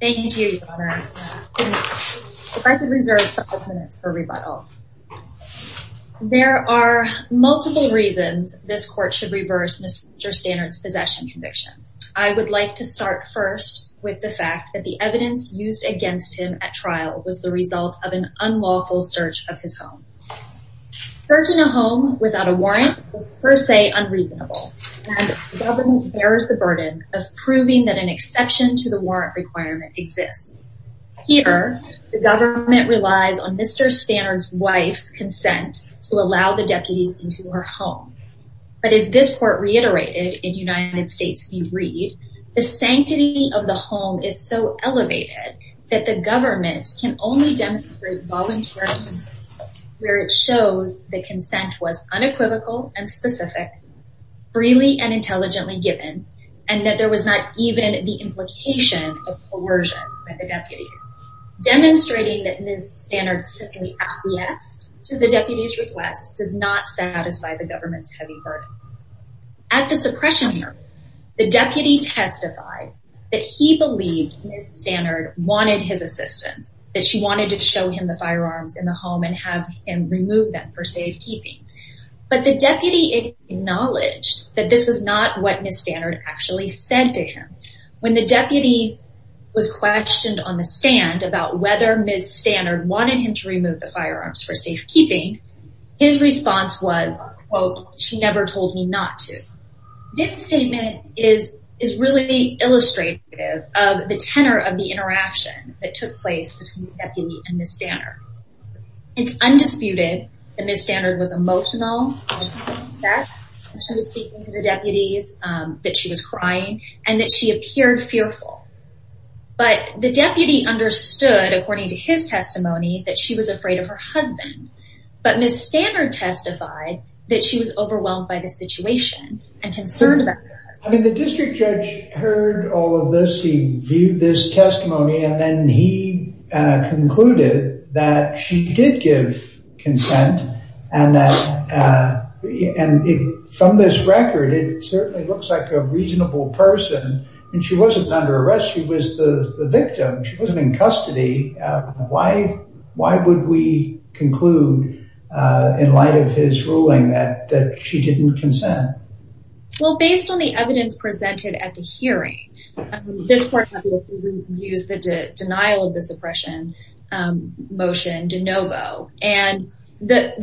Thank you, Governor. If I could reserve a couple of minutes for rebuttal. There are multiple reasons this Court should reverse Mr. Stanard's possession convictions. I would like to start first with the fact that the evidence used against him at trial was the result of an unlawful search of his home. Searching a home without a warrant was per se unreasonable, and the government bears the burden of proving that an exception to the warrant requirement exists. Here, the government relies on Mr. Stanard's wife's consent to allow the deputies into her home. But as this Court reiterated in United States v. Reed, the sanctity of the home is so elevated that the government can only demonstrate voluntary consent where it shows that consent was unequivocal and specific, freely and intelligently given, and that there was not even the implication of coercion by the deputies. Demonstrating that Ms. Stanard simply acquiesced to the deputies' request does not satisfy the government's heavy burden. At the suppression hearing, the deputy testified that he believed Ms. Stanard wanted his assistance, that she wanted to show him the firearms in the home and have him remove them for safekeeping. But the deputy acknowledged that this was not what Ms. Stanard actually said to him. When the deputy was questioned on the stand about whether Ms. Stanard wanted him to remove the firearms for safekeeping, his response was, quote, she never told me not to. This statement is really illustrative of the tenor of the interaction that took place between the deputy and Ms. Stanard. It's undisputed that Ms. Stanard was emotional, that she was speaking to the deputies, that she was crying, and that she appeared fearful. But the deputy understood, according to his testimony, that she was afraid of her husband. But Ms. Stanard testified that she was overwhelmed by the situation and concerned about her husband. I mean, the district judge heard all of this, he viewed this testimony, and then he concluded that she did give consent. And from this record, it certainly looks like a reasonable person. And she wasn't under arrest, she was the victim, she wasn't in custody. Why would we conclude, in light of his ruling, that she didn't consent? Well, based on the evidence presented at the hearing, this court used the denial of this oppression motion de novo. And the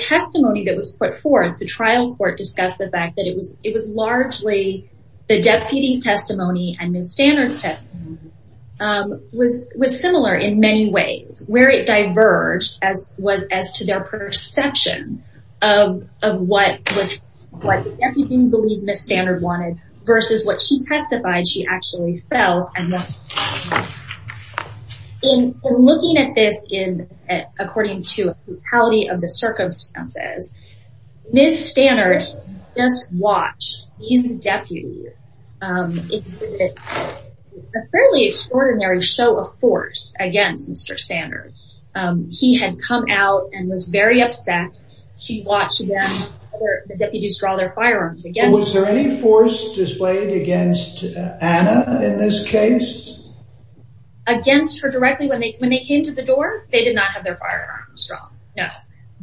testimony that was put forth, the trial court discussed the fact that it was largely the deputy's testimony and Ms. Stanard's testimony. It was similar in many ways. Where it diverged was as to their perception of what the deputy believed Ms. Stanard wanted versus what she testified she actually felt. In looking at this according to the brutality of the circumstances, Ms. Stanard just watched these deputies exhibit a fairly extraordinary show of force against Mr. Stanard. He had come out and was very upset. She watched the deputies draw their firearms against him. Was there any force displayed against Anna in this case? Against her directly when they came to the door? They did not have their firearms drawn, no.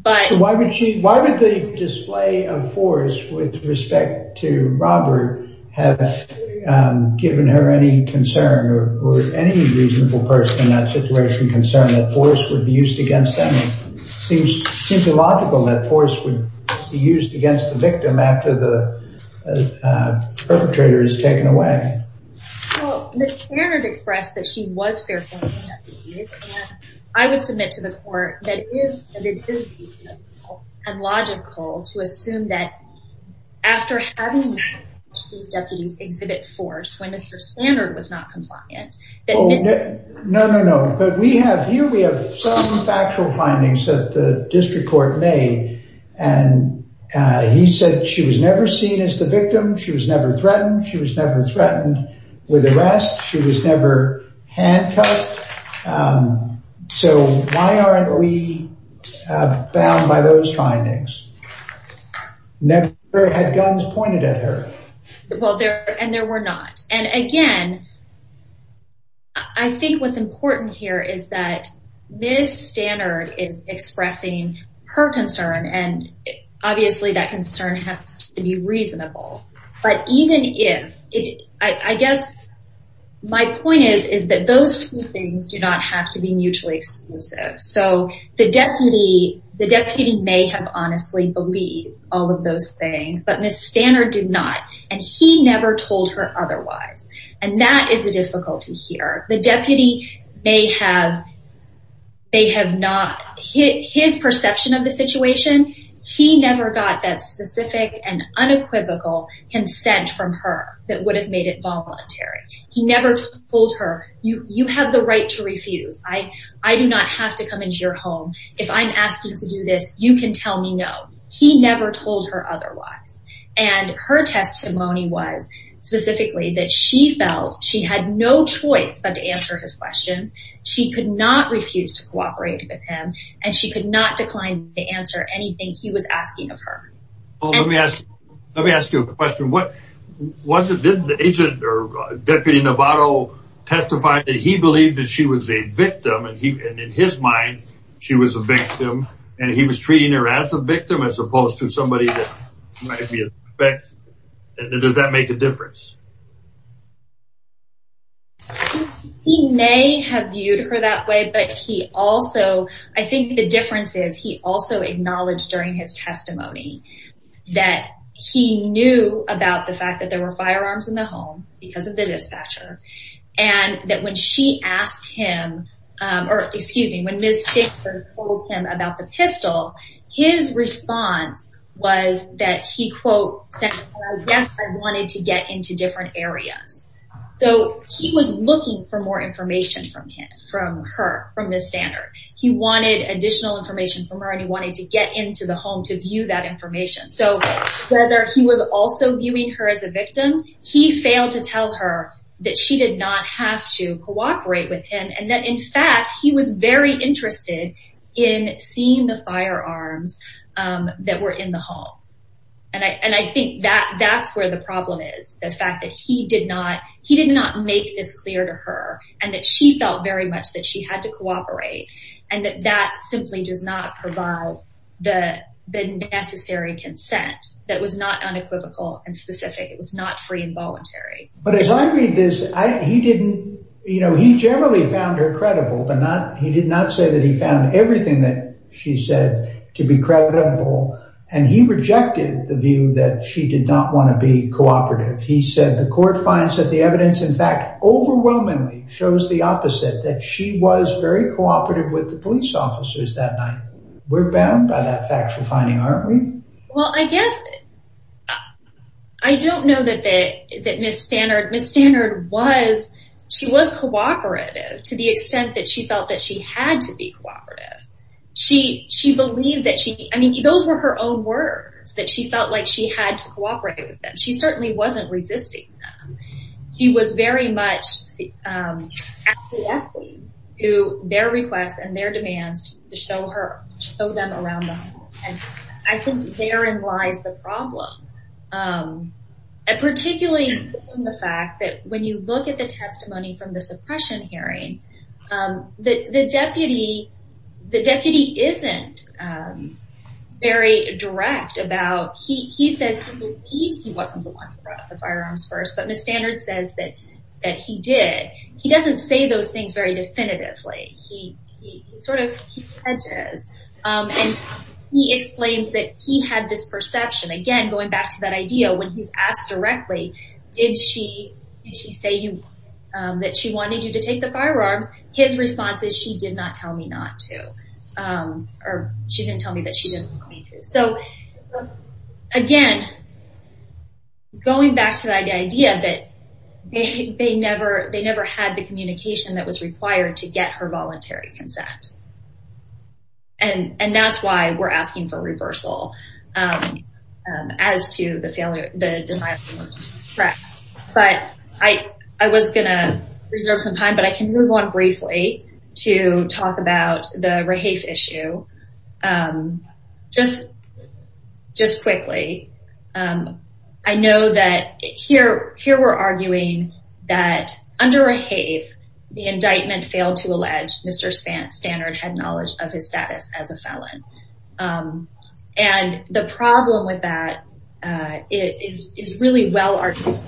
Why would the display of force with respect to Robert have given her any concern or any reasonable person in that situation concern that force would be used against them? It seems illogical that force would be used against the victim after the perpetrator is taken away. Well, Ms. Stanard expressed that she was fair-handed. I would submit to the court that it is reasonable and logical to assume that after having watched these deputies exhibit force when Mr. Stanard was not compliant. No, no, no. But here we have some factual findings that the district court made. And he said she was never seen as the victim. She was never threatened. She was never threatened with arrest. She was never handcuffed. So why aren't we bound by those findings? Never had guns pointed at her. And there were not. And again, I think what's important here is that Ms. Stanard is expressing her concern and obviously that concern has to be reasonable. But even if, I guess my point is that those two things do not have to be mutually exclusive. So the deputy may have honestly believed all of those things, but Ms. Stanard did not. And he never told her otherwise. And that is the difficulty here. The deputy may have not. His perception of the situation, he never got that specific and unequivocal consent from her that would have made it voluntary. He never told her, you have the right to refuse. I do not have to come into your home. If I'm asking to do this, you can tell me no. He never told her otherwise. And her testimony was specifically that she felt she had no choice but to answer his questions. She could not refuse to cooperate with him and she could not decline to answer anything he was asking of her. Let me ask you a question. Did the agent or Deputy Navarro testify that he believed that she was a victim and in his mind she was a victim and he was treating her as a victim as opposed to somebody that might be a suspect? He may have viewed her that way, but he also, I think the difference is he also acknowledged during his testimony that he knew about the fact that there were firearms in the home because of the dispatcher. And that when she asked him, or excuse me, when Ms. Stickford told him about the pistol, his response was that he, quote, said, yes, I wanted to get into different areas. So he was looking for more information from her, from Ms. Standard. He wanted additional information from her and he wanted to get into the home to view that information. So whether he was also viewing her as a victim, he failed to tell her that she did not have to cooperate with him and that, in fact, he was very interested in seeing the firearms that were in the home. And I think that that's where the problem is, the fact that he did not he did not make this clear to her and that she felt very much that she had to cooperate and that that simply does not provide the necessary consent that was not unequivocal and specific. It was not free and voluntary. But as I read this, he didn't you know, he generally found her credible, but not he did not say that he found everything that she said to be credible. And he rejected the view that she did not want to be cooperative. He said the court finds that the evidence, in fact, overwhelmingly shows the opposite, that she was very cooperative with the police officers that night. We're bound by that factual finding, aren't we? Well, I guess I don't know that that Ms. Stannard was she was cooperative to the extent that she felt that she had to be cooperative. She she believed that she I mean, those were her own words that she felt like she had to cooperate with them. She certainly wasn't resisting. She was very much to their requests and their demands to show her show them around. And I think therein lies the problem. And particularly in the fact that when you look at the testimony from the suppression hearing that the deputy, the deputy isn't very direct about. He says he believes he wasn't the one who brought up the firearms first. But Ms. Stannard says that that he did. He doesn't say those things very definitively. He sort of hedges and he explains that he had this perception, again, going back to that idea when he's asked directly, did she say that she wanted you to take the firearms? His response is she did not tell me not to or she didn't tell me that she didn't want me to. So, again, going back to the idea that they never they never had the communication that was required to get her voluntary consent. And that's why we're asking for reversal as to the failure. But I, I was going to reserve some time, but I can move on briefly to talk about the Rehave issue. Just just quickly. I know that here here we're arguing that under Rehave, the indictment failed to allege Mr. Stannard had knowledge of his status as a felon. And the problem with that is is really well argued.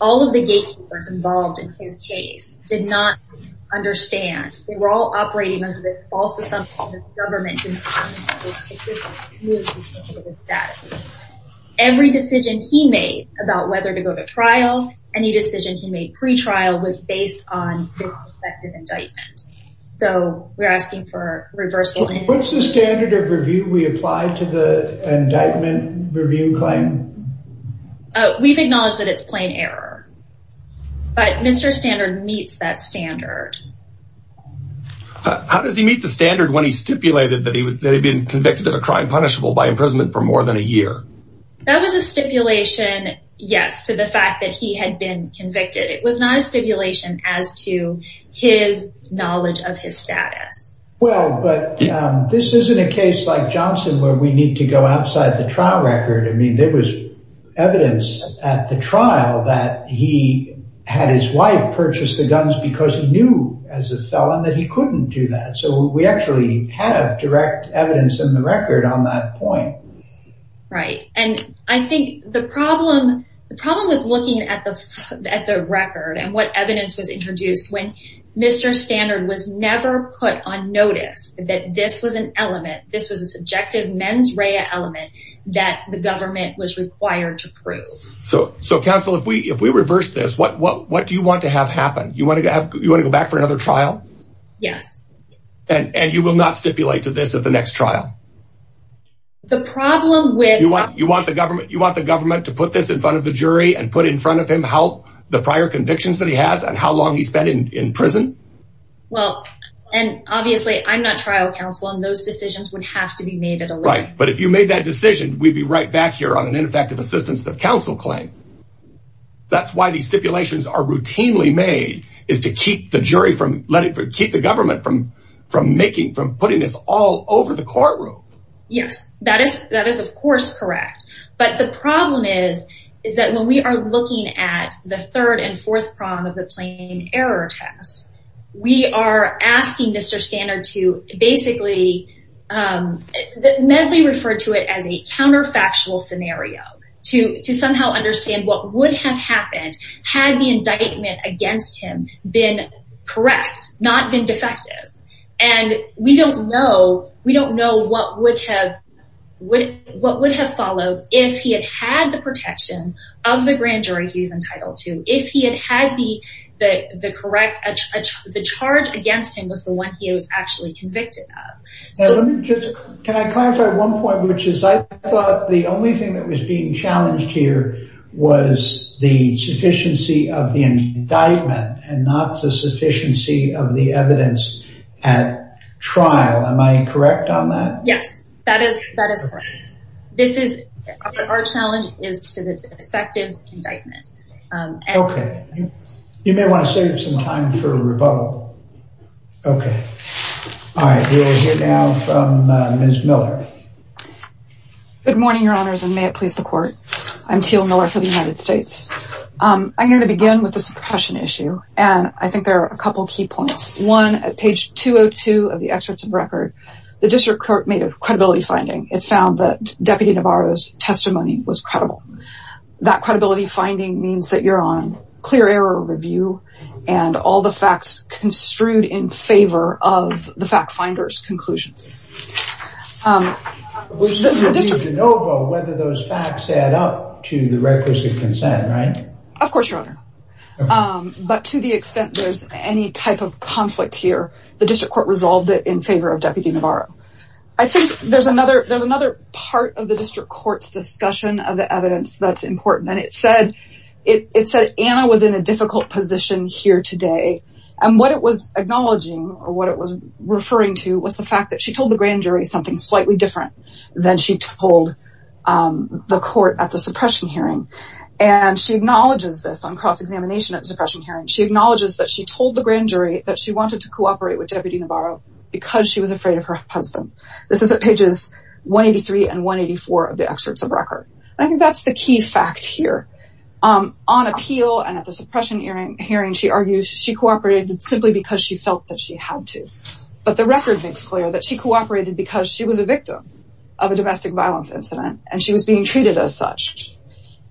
All of the gatekeepers involved in his case did not understand. They were all operating under this false assumption that the government didn't know. Every decision he made about whether to go to trial, any decision he made pre-trial was based on this effective indictment. So we're asking for reversal. What's the standard of review we applied to the indictment review claim? We've acknowledged that it's plain error. But Mr. Stannard meets that standard. How does he meet the standard when he stipulated that he had been convicted of a crime punishable by imprisonment for more than a year? That was a stipulation, yes, to the fact that he had been convicted. It was not a stipulation as to his knowledge of his status. Well, but this isn't a case like Johnson where we need to go outside the trial record. I mean, there was evidence at the trial that he had his wife purchase the guns because he knew as a felon that he couldn't do that. So we actually have direct evidence in the record on that point. Right. And I think the problem with looking at the record and what evidence was introduced when Mr. Stannard was never put on notice that this was an element, this was a subjective mens rea element that the government was required to prove. So, counsel, if we reverse this, what do you want to have happen? You want to go back for another trial? Yes. And you will not stipulate to this at the next trial? The problem with... You want the government to put this in front of the jury and put in front of him how the prior convictions that he has and how long he spent in prison? Well, and obviously I'm not trial counsel and those decisions would have to be made at a later time. Right. But if you made that decision, we'd be right back here on an ineffective assistance of counsel claim. That's why these stipulations are routinely made, is to keep the government from putting this all over the courtroom. Yes, that is, of course, correct. But the problem is, is that when we are looking at the third and fourth prong of the plain error test, we are asking Mr. Stannard to basically... Medley referred to it as a counterfactual scenario to somehow understand what would have happened had the indictment against him been correct, not been defective. And we don't know what would have followed if he had had the protection of the grand jury he's entitled to, if he had had the correct... The charge against him was the one he was actually convicted of. Can I clarify one point, which is I thought the only thing that was being challenged here was the sufficiency of the indictment and not the sufficiency of the evidence at trial. Am I correct on that? Yes, that is correct. This is our challenge is to the effective indictment. Okay. You may want to save some time for rebuttal. Okay. All right. We will hear now from Ms. Miller. Good morning, Your Honors, and may it please the court. I'm Teal Miller for the United States. I'm going to begin with the suppression issue, and I think there are a couple of key points. One, at page 202 of the excerpts of record, the district court made a credibility finding. It found that Deputy Navarro's testimony was credible. That credibility finding means that you're on clear error review, and all the facts construed in favor of the fact finder's conclusions. It's up to the district to de novo whether those facts add up to the requisite consent, right? Of course, Your Honor. But to the extent there's any type of conflict here, the district court resolved it in favor of Deputy Navarro. I think there's another part of the district court's discussion of the evidence that's important, and it said Anna was in a difficult position here today, and what it was acknowledging or what it was referring to was the fact that she told the grand jury something slightly different than she told the court at the suppression hearing. And she acknowledges this on cross-examination at the suppression hearing. She acknowledges that she told the grand jury that she wanted to cooperate with Deputy Navarro because she was afraid of her husband. This is at pages 183 and 184 of the excerpts of record. I think that's the key fact here. On appeal and at the suppression hearing, she argues she cooperated simply because she felt that she had to. But the record makes clear that she cooperated because she was a victim of a domestic violence incident, and she was being treated as such.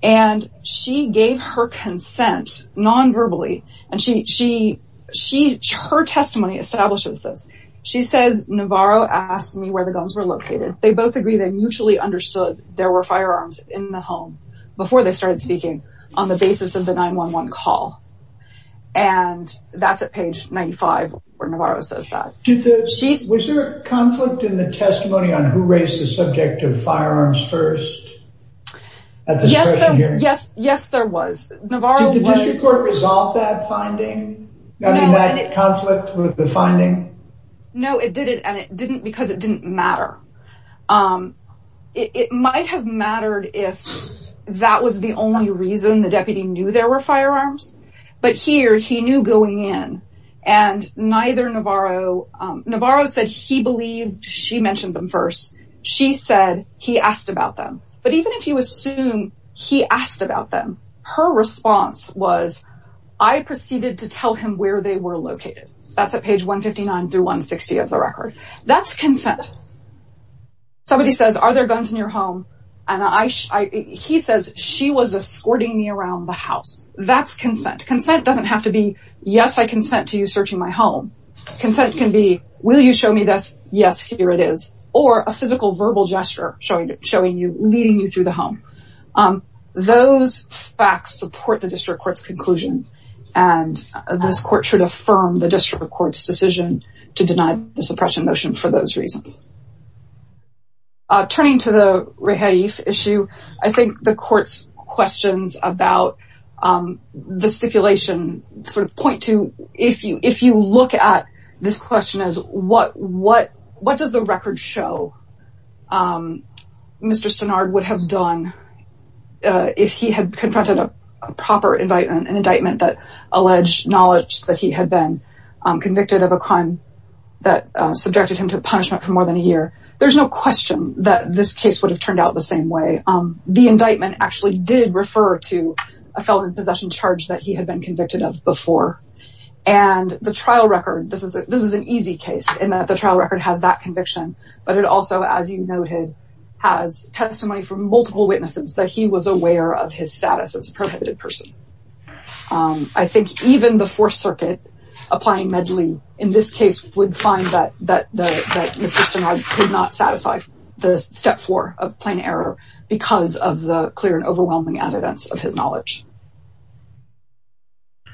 And she gave her consent non-verbally, and her testimony establishes this. She says, Navarro asked me where the guns were located. They both agreed they mutually understood there were firearms in the home before they started speaking on the basis of the 911 call. And that's at page 95 where Navarro says that. Was there a conflict in the testimony on who raised the subject of firearms first? Yes, there was. Did the district court resolve that finding? That conflict with the finding? No, it didn't because it didn't matter. It might have mattered if that was the only reason the deputy knew there were firearms. But here, he knew going in, and neither Navarro... Navarro said he believed she mentioned them first. She said he asked about them. But even if you assume he asked about them, her response was, I proceeded to tell him where they were located. That's at page 159 through 160 of the record. That's consent. Somebody says, are there guns in your home? And he says, she was escorting me around the house. That's consent. Consent doesn't have to be, yes, I consent to you searching my home. Consent can be, will you show me this? Yes, here it is. Or a physical verbal gesture showing you, leading you through the home. Those facts support the district court's conclusion. And this court should affirm the district court's decision to deny the suppression motion for those reasons. Turning to the Rehaif issue, I think the court's questions about the stipulation sort of point to, if you look at this question as what does the record show Mr. Stenard would have done if he had confronted a proper indictment, an indictment that alleged knowledge that he had been convicted of a crime that subjected him to punishment for more than a year, there's no question that this case would have turned out the same way. The indictment actually did refer to a felon in possession charge that he had been convicted of before. And the trial record, this is an easy case in that the trial record has that conviction, but it also, as you noted, has testimony from multiple witnesses that he was aware of his status as a prohibited person. I think even the Fourth Circuit applying Medley in this case would find that Mr. Stenard could not satisfy the Step 4 of plain error because of the clear and overwhelming evidence of his knowledge.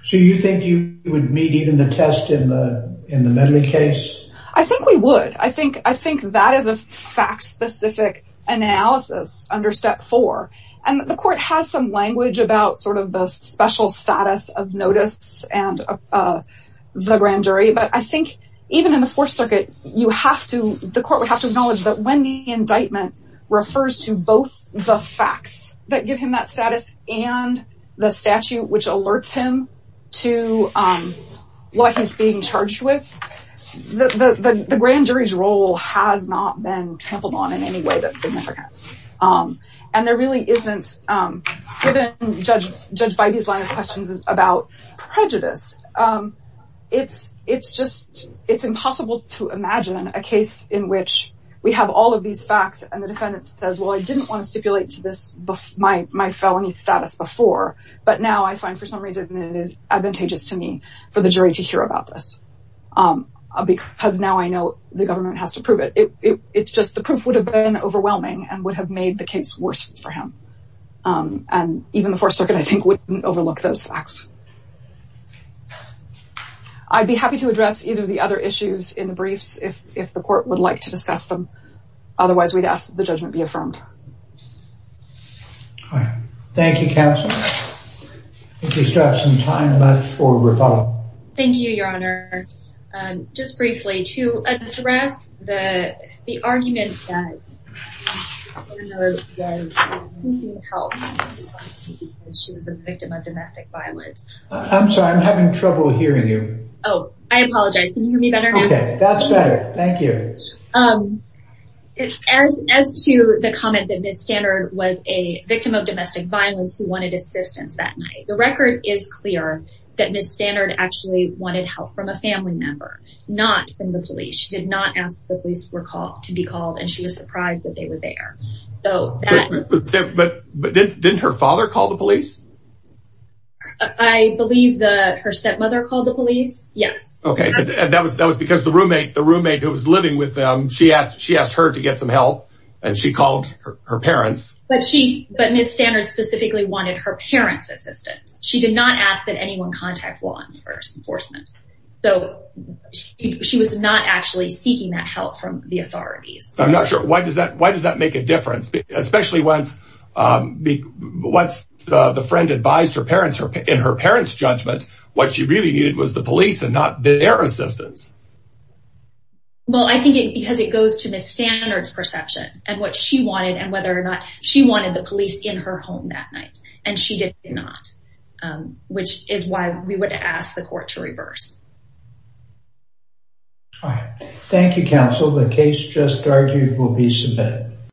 So you think you would meet even the test in the Medley case? I think we would. I think that is a fact-specific analysis under Step 4. And the court has some language about sort of the special status of notice and the grand jury, but I think even in the Fourth Circuit, the court would have to acknowledge that when the indictment refers to both the facts that give him that status and the statute which alerts him to what he's being charged with, the grand jury's role has not been trampled on in any way that's significant. And there really isn't, given Judge Bybee's line of questions about prejudice, it's impossible to imagine a case in which we have all of these facts and the defendant says, well, I didn't want to stipulate my felony status before, but now I find for some reason it is advantageous to me for the jury to hear about this because now I know the government has to prove it. It's just the proof would have been overwhelming and would have made the case worse for him. And even the Fourth Circuit, I think, wouldn't overlook those facts. I'd be happy to address either of the other issues in the briefs if the court would like to discuss them. Otherwise, we'd ask that the judgment be affirmed. Thank you, Counselor. I think we still have some time left for rebuttal. Thank you, Your Honor. Just briefly, to address the argument that Ms. Stannard was seeking help because she was a victim of domestic violence. I'm sorry, I'm having trouble hearing you. Oh, I apologize. Can you hear me better now? Okay, that's better. Thank you. As to the comment that Ms. Stannard was a victim of domestic violence who wanted assistance that night, the record is clear that Ms. Stannard actually wanted help from a family member, not from the police. She did not ask the police to be called, and she was surprised that they were there. But didn't her father call the police? I believe her stepmother called the police, yes. Okay, and that was because the roommate who was living with them, she asked her to get some help, and she called her parents. But Ms. Stannard specifically wanted her parents' assistance. She did not ask that anyone contact law enforcement. So, she was not actually seeking that help from the authorities. I'm not sure. Why does that make a difference? Especially once the friend advised her parents in her parents' judgment, what she really needed was the police and not their assistance. Well, I think it's because it goes to Ms. Stannard's perception and what she wanted and whether or not she wanted the police in her home that night. And she did not, which is why we would ask the court to reverse. Thank you, counsel. The case just argued will be submitted.